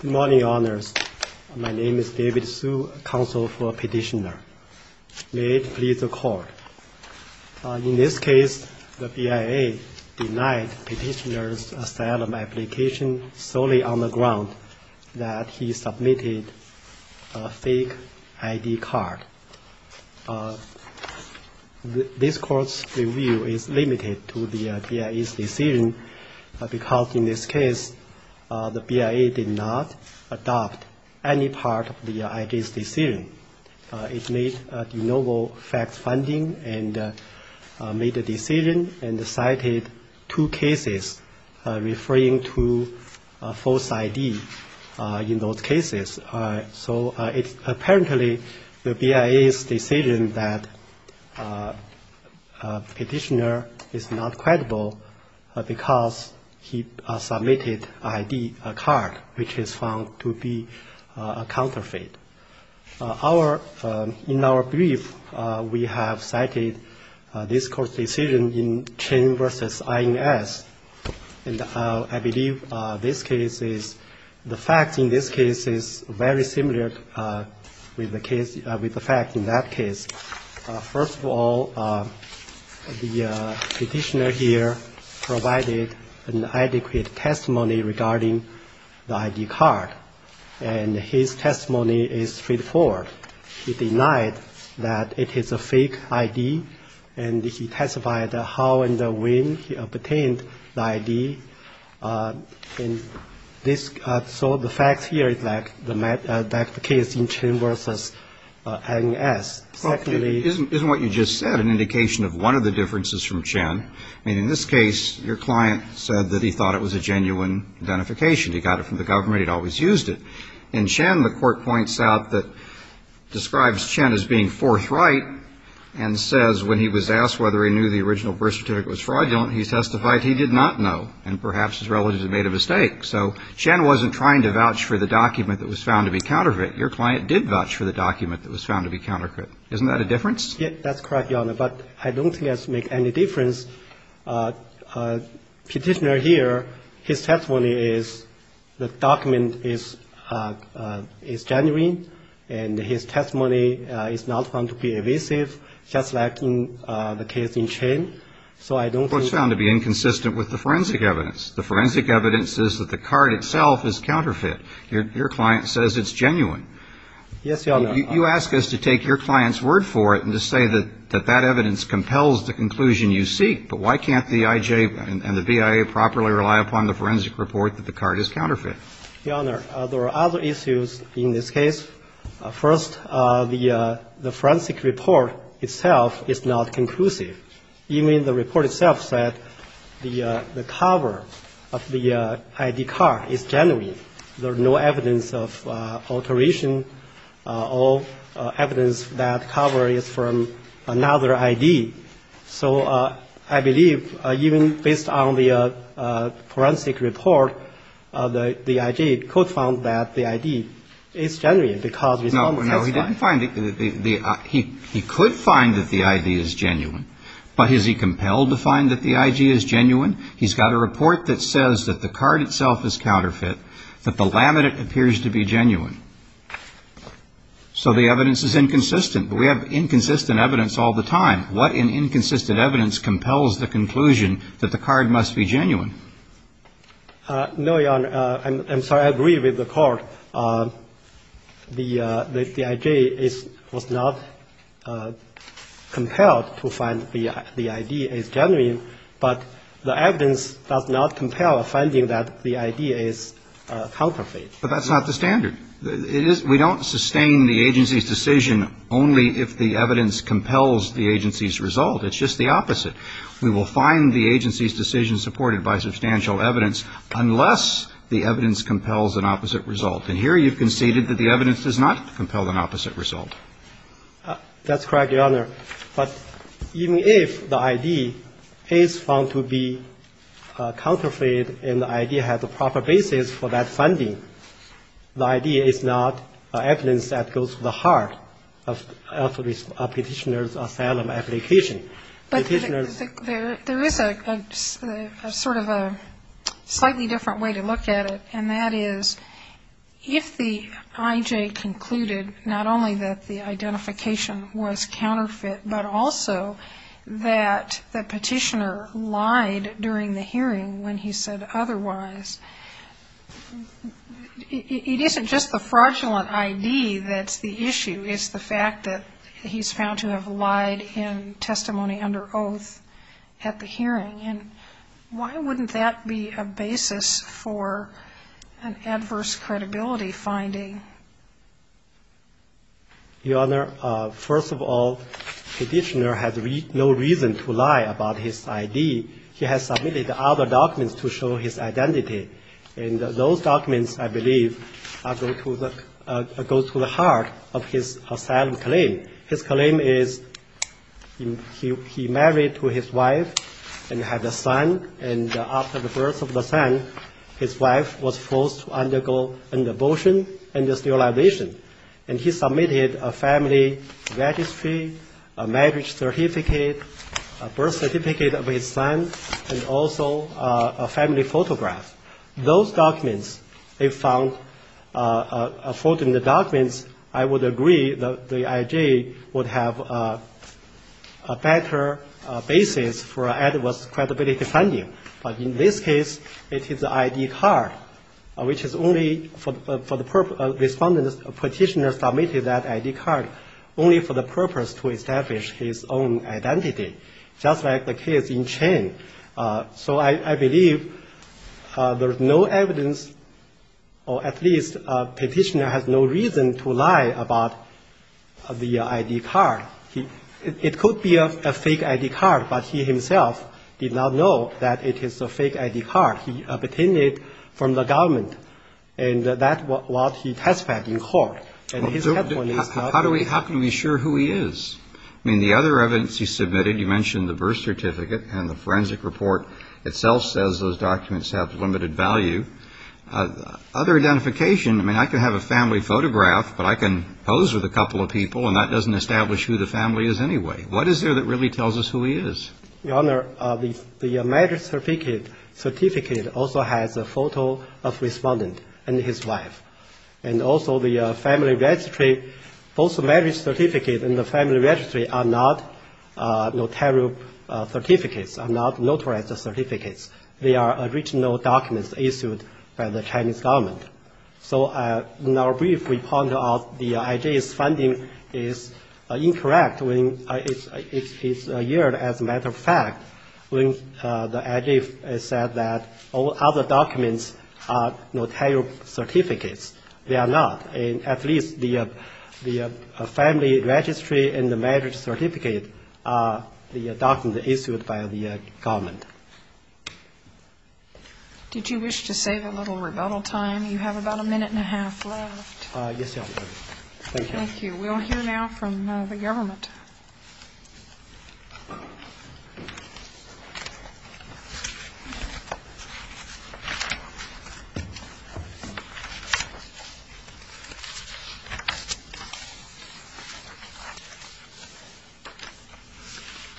Good morning, Your Honors. My name is David Hsu, counsel for Petitioner. May it please the Court. In this case, the BIA denied Petitioner's asylum application solely on the ground that he submitted a fake ID card. This Court's review is limited to the BIA's decision because in this case, the BIA did not adopt any part of the ID's decision. It made a de novo fact finding and made a decision and cited two cases referring to false ID in those cases. So it's apparently the BIA's decision that Petitioner is not credible because he submitted an ID card, which is found to be a counterfeit. In our brief, we have cited this Court's decision in Chen v. INS, and I believe this case is, the fact in this case is very similar with the fact in that case. First of all, the Petitioner here provided an adequate testimony regarding the ID card, and his testimony is straightforward. He denied that it is a fake ID, and he testified how and when he obtained the ID. So the fact here is like the case in Chen v. INS. Secondly — Isn't what you just said an indication of one of the differences from Chen? I mean, in this case, your client said that he thought it was a genuine identification. He got it from the government. He'd always used it. In Chen, the Court points out that describes Chen as being forthright and says when he was asked whether he knew the original birth certificate was fraudulent, he testified he did not know. And perhaps his relatives had made a mistake. So Chen wasn't trying to vouch for the document that was found to be counterfeit. Your client did vouch for the document that was found to be counterfeit. Isn't that a difference? Yes, that's correct, Your Honor, but I don't think it makes any difference. Petitioner here, his testimony is the document is genuine, and his testimony is not found to be evasive, just like in the case in Chen. So I don't think — Your client says it's genuine. Yes, Your Honor. You ask us to take your client's word for it and to say that that evidence compels the conclusion you seek, but why can't the IJ and the BIA properly rely upon the forensic report that the card is counterfeit? Your Honor, there are other issues in this case. First, the forensic report itself is not conclusive. Even the report itself said the cover of the I.D. card is genuine. There's no evidence of alteration or evidence that cover is from another I.D. So I believe even based on the forensic report, the IJ could find that the I.D. is genuine because we found it. No, he didn't find it. He could find that the I.D. is genuine, but is he compelled to find that the I.G. is genuine? He's got a report that says that the card itself is counterfeit, that the laminate appears to be genuine. So the evidence is inconsistent, but we have inconsistent evidence all the time. What in inconsistent evidence compels the conclusion that the card must be genuine? No, Your Honor. I'm sorry. I agree with the court. The I.J. was not compelled to find the I.D. is genuine, but the evidence does not compel finding that the I.D. is counterfeit. But that's not the standard. It is. We don't sustain the agency's decision only if the evidence compels the agency's result. It's just the opposite. We will find the agency's decision supported by substantial evidence unless the evidence compels an opposite result. And here you've conceded that the evidence does not compel an opposite result. That's correct, Your Honor. But even if the I.D. is found to be counterfeit and the I.D. has a proper basis for that funding, the I.D. is not evidence that goes to the heart of a Petitioner's Asylum application. But there is a sort of a slightly different way to look at it, and that is if the I.J. concluded not only that the identification was counterfeit, but also that the Petitioner lied during the hearing when he said otherwise, it isn't just the fraudulent I.D. that's the issue. It's the fact that he's found to have lied in testimony under oath at the hearing. And why wouldn't that be a basis for an adverse credibility finding? Your Honor, first of all, Petitioner has no reason to lie about his I.D. He has submitted other documents to show his identity. And those documents, I believe, go to the heart of his asylum claim. His claim is he married to his wife and had a son, and after the birth of the son, his wife was forced to undergo an abortion and sterilization. And he submitted a family registry, a marriage certificate, a birth certificate of his son, and also a family photograph. Those documents, if found fraudulent documents, I would agree that the I.J. would have a better basis for adverse credibility finding. But in this case, it is the I.D. card, which is only for the purpose of Petitioner submitted that I.D. card, only for the purpose to establish his own identity. Just like the case in Chen. So I believe there's no evidence, or at least Petitioner has no reason to lie about the I.D. card. It could be a fake I.D. card, but he himself did not know that it is a fake I.D. card. He obtained it from the government. And that's what he testified in court. And his testimony is not true. How can we be sure who he is? I mean, the other evidence he submitted, you mentioned the birth certificate, and the forensic report itself says those documents have limited value. Other identification, I mean, I can have a family photograph, but I can pose with a couple of people and that doesn't establish who the family is anyway. What is there that really tells us who he is? Your Honor, the marriage certificate also has a photo of respondent and his wife. And also the family registry, both the marriage certificate and the family registry are not notarial certificates, are not notarized certificates. They are original documents issued by the Chinese government. So in our brief, we point out the I.D.'s finding is incorrect. It's a year, as a matter of fact, when the I.D. said that all other documents are notarial certificates. They are not. At least the family registry and the marriage certificate are documents issued by the government. Did you wish to save a little rebuttal time? You have about a minute and a half left. Yes, Your Honor. Thank you. We will hear now from the government.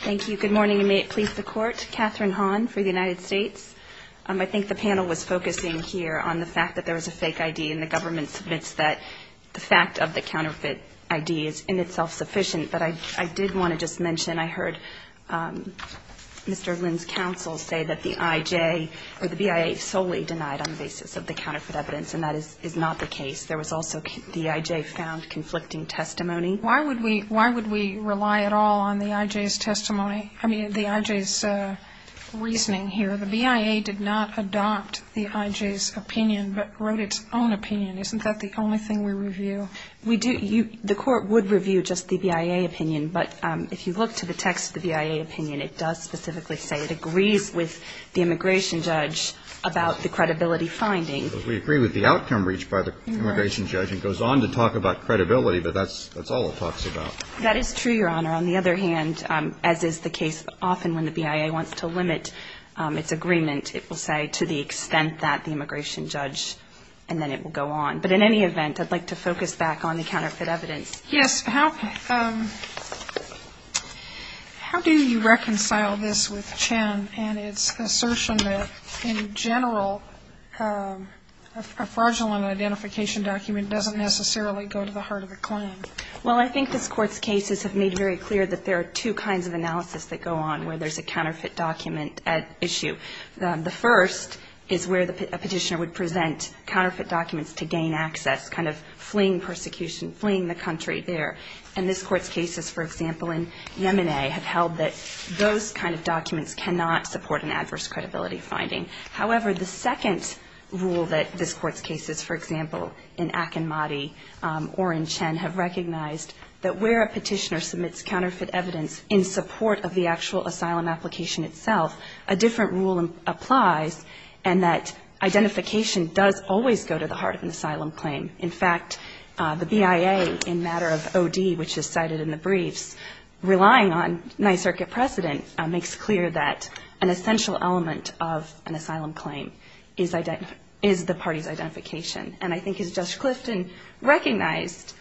Thank you. Good morning, and may it please the Court. Katherine Hahn for the United States. I think the panel was focusing here on the fact that there was a fake I.D. and the government submits that the fact of the counterfeit I.D. is in itself sufficient. But I did want to just mention I heard Mr. Lin's counsel say that the I.J. or the BIA solely denied on the basis of the counterfeit evidence, and that is not the case. There was also the I.J. found conflicting testimony. Why would we rely at all on the I.J.'s testimony? I mean, the I.J.'s reasoning here. The BIA did not adopt the I.J.'s opinion but wrote its own opinion. Isn't that the only thing we review? We do. The Court would review just the BIA opinion, but if you look to the text of the BIA opinion, it does specifically say it agrees with the immigration judge about the credibility finding. We agree with the outcome reached by the immigration judge and goes on to talk about credibility, but that's all it talks about. That is true, Your Honor. On the other hand, as is the case often when the BIA wants to limit its agreement, it will say to the extent that the immigration judge, and then it will go on. But in any event, I'd like to focus back on the counterfeit evidence. Yes. How do you reconcile this with Chen and its assertion that in general a fraudulent identification document doesn't necessarily go to the heart of the claim? Well, I think this Court's cases have made very clear that there are two kinds of analysis that go on where there's a counterfeit document issue. The first is where a petitioner would present counterfeit documents to gain access, kind of fleeing persecution, fleeing the country there. And this Court's cases, for example, in Yemeni have held that those kind of documents cannot support an adverse credibility finding. However, the second rule that this Court's cases, for example, in Akinmati or in Chen, have recognized that where a petitioner submits counterfeit evidence in support of the actual asylum application itself, a different rule applies, and that identification does always go to the heart of an asylum claim. In fact, the BIA, in matter of OD, which is cited in the briefs, relying on night circuit precedent, makes clear that an essential element of an asylum claim is the party's identification. And I think as Judge Clifton recognized,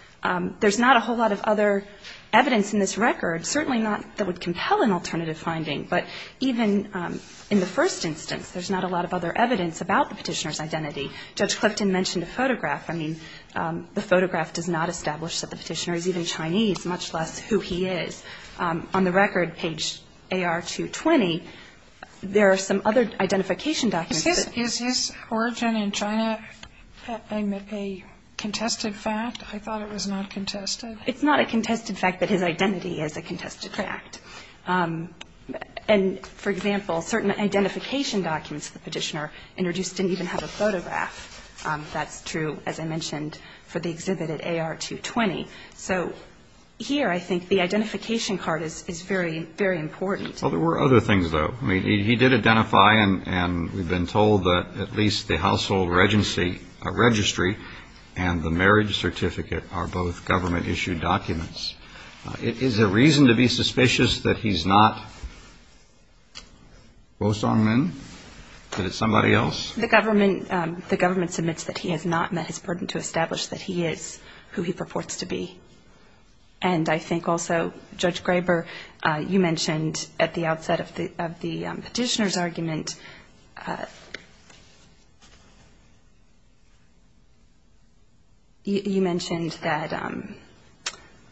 there's not a whole lot of other evidence in this record, certainly not that would compel an alternative finding. But even in the first instance, there's not a lot of other evidence about the petitioner's identity. Judge Clifton mentioned a photograph. I mean, the photograph does not establish that the petitioner is even Chinese, much less who he is. On the record, page AR220, there are some other identification documents. Is his origin in China a contested fact? I thought it was not contested. It's not a contested fact that his identity is a contested fact. And, for example, certain identification documents of the petitioner introduced didn't even have a photograph. That's true, as I mentioned, for the exhibit at AR220. So here I think the identification card is very, very important. Well, there were other things, though. I mean, he did identify, and we've been told that at least the household registry and the marriage certificate are both government-issued documents. Is there reason to be suspicious that he's not Wo Song Min, that it's somebody else? The government submits that he has not met his burden to establish that he is who he purports to be. And I think also, Judge Graber, you mentioned at the outset of the petitioner's argument, you mentioned that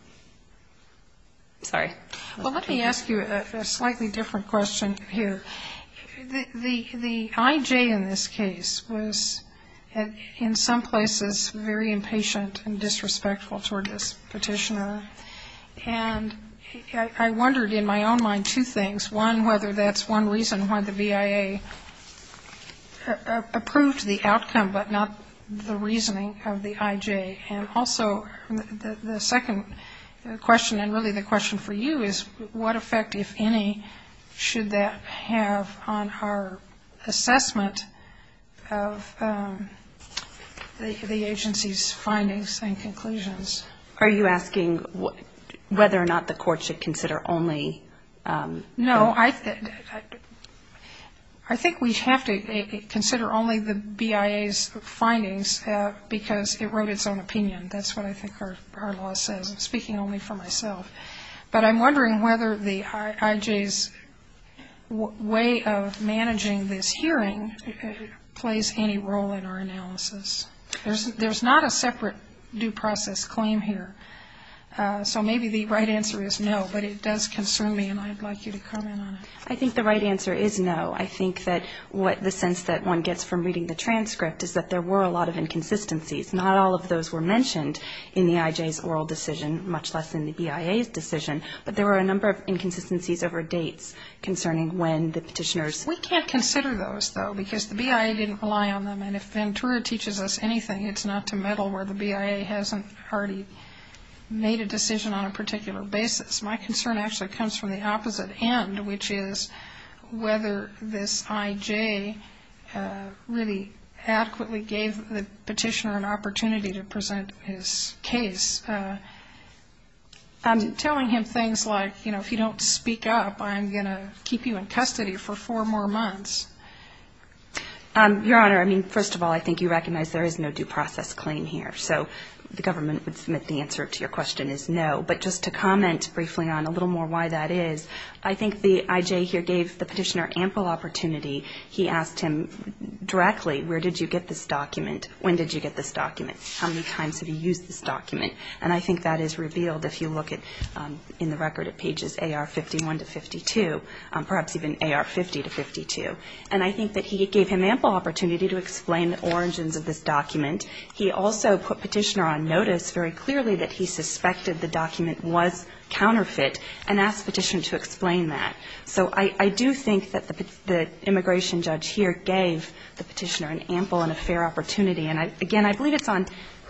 – sorry. Well, let me ask you a slightly different question here. The I.J. in this case was, in some places, very impatient and disrespectful toward this petitioner. And I wondered, in my own mind, two things. One, whether that's one reason why the V.I.A. approved the outcome, but not the reasoning of the I.J. And also, the second question, and really the question for you, is what effect, if any, should that have on our assessment of the agency's findings and conclusions? Are you asking whether or not the court should consider only? No. I think we have to consider only the V.I.A.'s findings, because it wrote its own opinion. That's what I think our law says. I'm speaking only for myself. But I'm wondering whether the I.J.'s way of managing this hearing plays any role in our analysis. There's not a separate due process claim here. So maybe the right answer is no, but it does concern me, and I'd like you to comment on it. I think the right answer is no. I think that the sense that one gets from reading the transcript is that there were a lot of inconsistencies. Not all of those were mentioned in the I.J.'s oral decision, much less in the V.I.A.'s decision, but there were a number of inconsistencies over dates concerning when the petitioners. We can't consider those, though, because the V.I.A. didn't rely on them. And if Ventura teaches us anything, it's not to meddle where the V.I.A. hasn't already made a decision on a particular basis. My concern actually comes from the opposite end, which is whether this I.J. really adequately gave the petitioner an opportunity to present his case. I'm telling him things like, you know, if you don't speak up, I'm going to keep you in custody for four more months. Your Honor, I mean, first of all, I think you recognize there is no due process claim here. So the government would submit the answer to your question is no. But just to comment briefly on a little more why that is, I think the I.J. here gave the petitioner ample opportunity. He asked him directly, where did you get this document? When did you get this document? How many times have you used this document? And I think that is revealed if you look in the record at pages A.R. 51 to 52, perhaps even A.R. 50 to 52. And I think that he gave him ample opportunity to explain the origins of this document. He also put petitioner on notice very clearly that he suspected the document was counterfeit and asked petitioner to explain that. So I do think that the immigration judge here gave the petitioner an ample and a fair opportunity. And, again, I believe it's on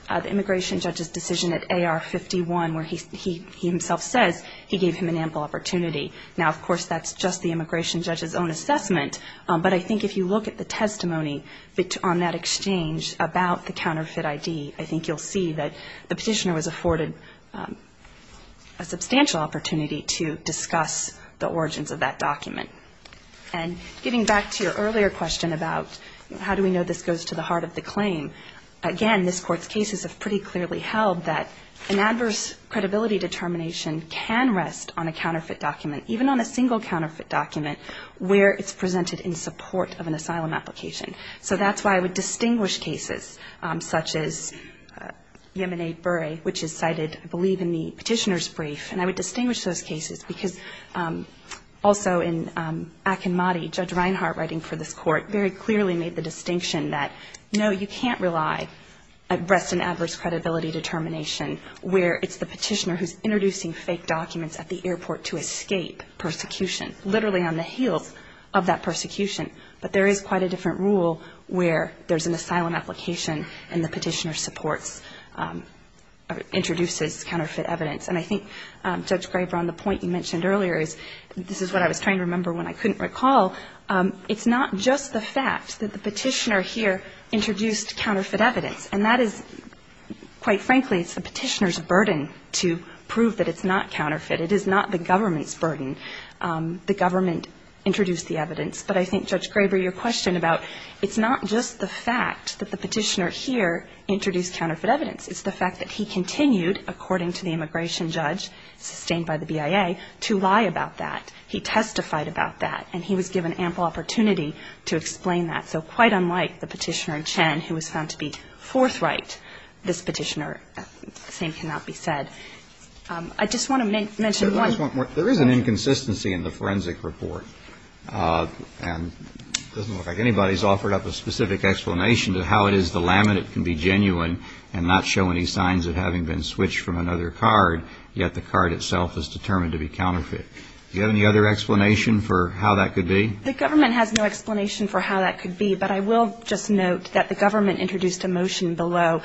the immigration judge's decision at A.R. 51 where he himself says he gave him an ample opportunity. Now, of course, that's just the immigration judge's own assessment. But I think if you look at the testimony on that exchange about the counterfeit I.D., I think you'll see that the petitioner was afforded a substantial opportunity to discuss the origins of that document. And getting back to your earlier question about how do we know this goes to the heart of the claim, again, this Court's cases have pretty clearly held that an adverse credibility determination can rest on a counterfeit document, even on a single counterfeit document, where it's presented in support of an asylum application. So that's why I would distinguish cases such as Yemeni-Bure, which is cited, I believe, in the petitioner's brief. And I would distinguish those cases because also in Akinmati, Judge Reinhart writing for this Court very clearly made the distinction that, no, you can't rely at rest an adverse credibility determination where it's the petitioner who's introducing fake documents at the airport to escape persecution, literally on the heels of that persecution. But there is quite a different rule where there's an asylum application and the petitioner supports or introduces counterfeit evidence. And I think, Judge Graber, on the point you mentioned earlier, this is what I was trying to remember when I couldn't recall, it's not just the fact that the petitioner here introduced counterfeit evidence. And that is, quite frankly, it's the petitioner's burden to prove that it's not counterfeit. It is not the government's burden. The government introduced the evidence. But I think, Judge Graber, your question about it's not just the fact that the petitioner here introduced counterfeit evidence. It's the fact that he continued, according to the immigration judge sustained by the BIA, to lie about that. He testified about that. And he was given ample opportunity to explain that. So quite unlike the petitioner in Chen who was found to be forthright, this petitioner, the same cannot be said. I just want to mention one point. There is an inconsistency in the forensic report. And it doesn't look like anybody's offered up a specific explanation to how it is the laminate can be genuine and not show any signs of having been switched from another card, yet the card itself is determined to be counterfeit. Do you have any other explanation for how that could be? The government has no explanation for how that could be. But I will just note that the government introduced a motion below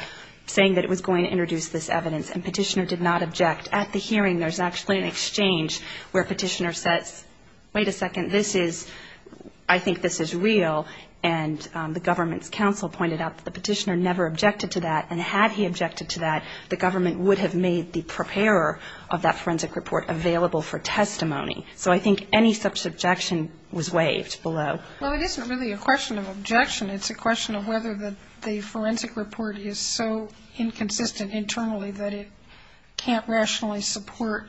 saying that it was going to introduce this evidence. And petitioner did not object. At the hearing, there's actually an exchange where petitioner says, wait a second, this is, I think this is real. And the government's counsel pointed out that the petitioner never objected to that. And had he objected to that, the government would have made the preparer of that forensic report available for testimony. So I think any such objection was waived below. Well, it isn't really a question of objection. It's a question of whether the forensic report is so inconsistent internally that it can't rationally support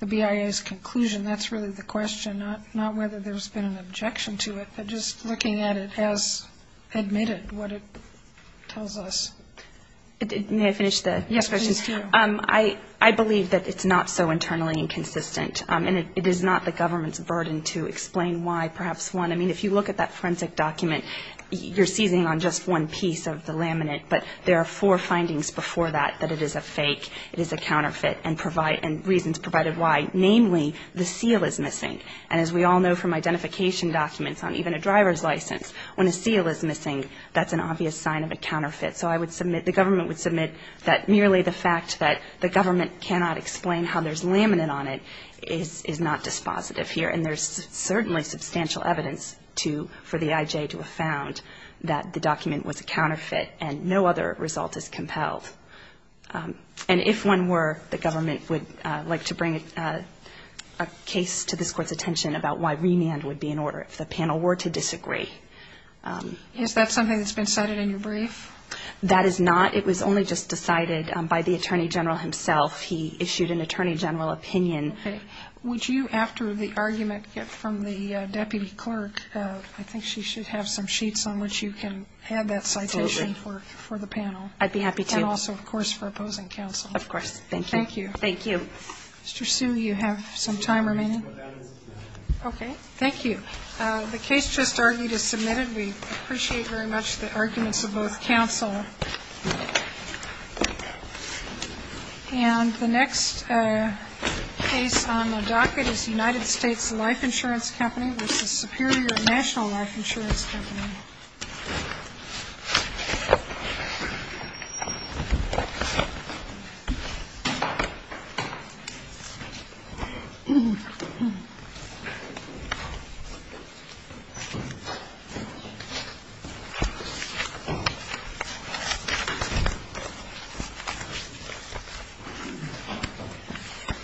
the BIA's conclusion. That's really the question, not whether there's been an objection to it, but just looking at it as admitted what it tells us. May I finish the questions? Yes, please do. I believe that it's not so internally inconsistent. And it is not the government's burden to explain why. Perhaps one, I mean, if you look at that forensic document, you're seizing on just one piece of the laminate. But there are four findings before that, that it is a fake, it is a counterfeit, and provide, and reasons provided why. Namely, the seal is missing. And as we all know from identification documents on even a driver's license, when a seal is missing, that's an obvious sign of a counterfeit. So I would submit, the government would submit that merely the fact that the government cannot explain how there's laminate on it is not dispositive here. And there's certainly substantial evidence for the IJ to have found that the document was a counterfeit and no other result is compelled. And if one were, the government would like to bring a case to this Court's attention about why remand would be in order, if the panel were to disagree. Is that something that's been cited in your brief? That is not. It was only just decided by the Attorney General himself. He issued an Attorney General opinion. Okay. Would you, after the argument from the Deputy Clerk, I think she should have some sheets on which you can add that citation for the panel. Absolutely. I'd be happy to. And also, of course, for opposing counsel. Of course. Thank you. Thank you. Thank you. Mr. Sue, you have some time remaining? Okay. Thank you. The case just argued is submitted. We appreciate very much the arguments of both counsel. And the next case on the docket is United States Life Insurance Company v. Superior National Life Insurance Company. Thank you.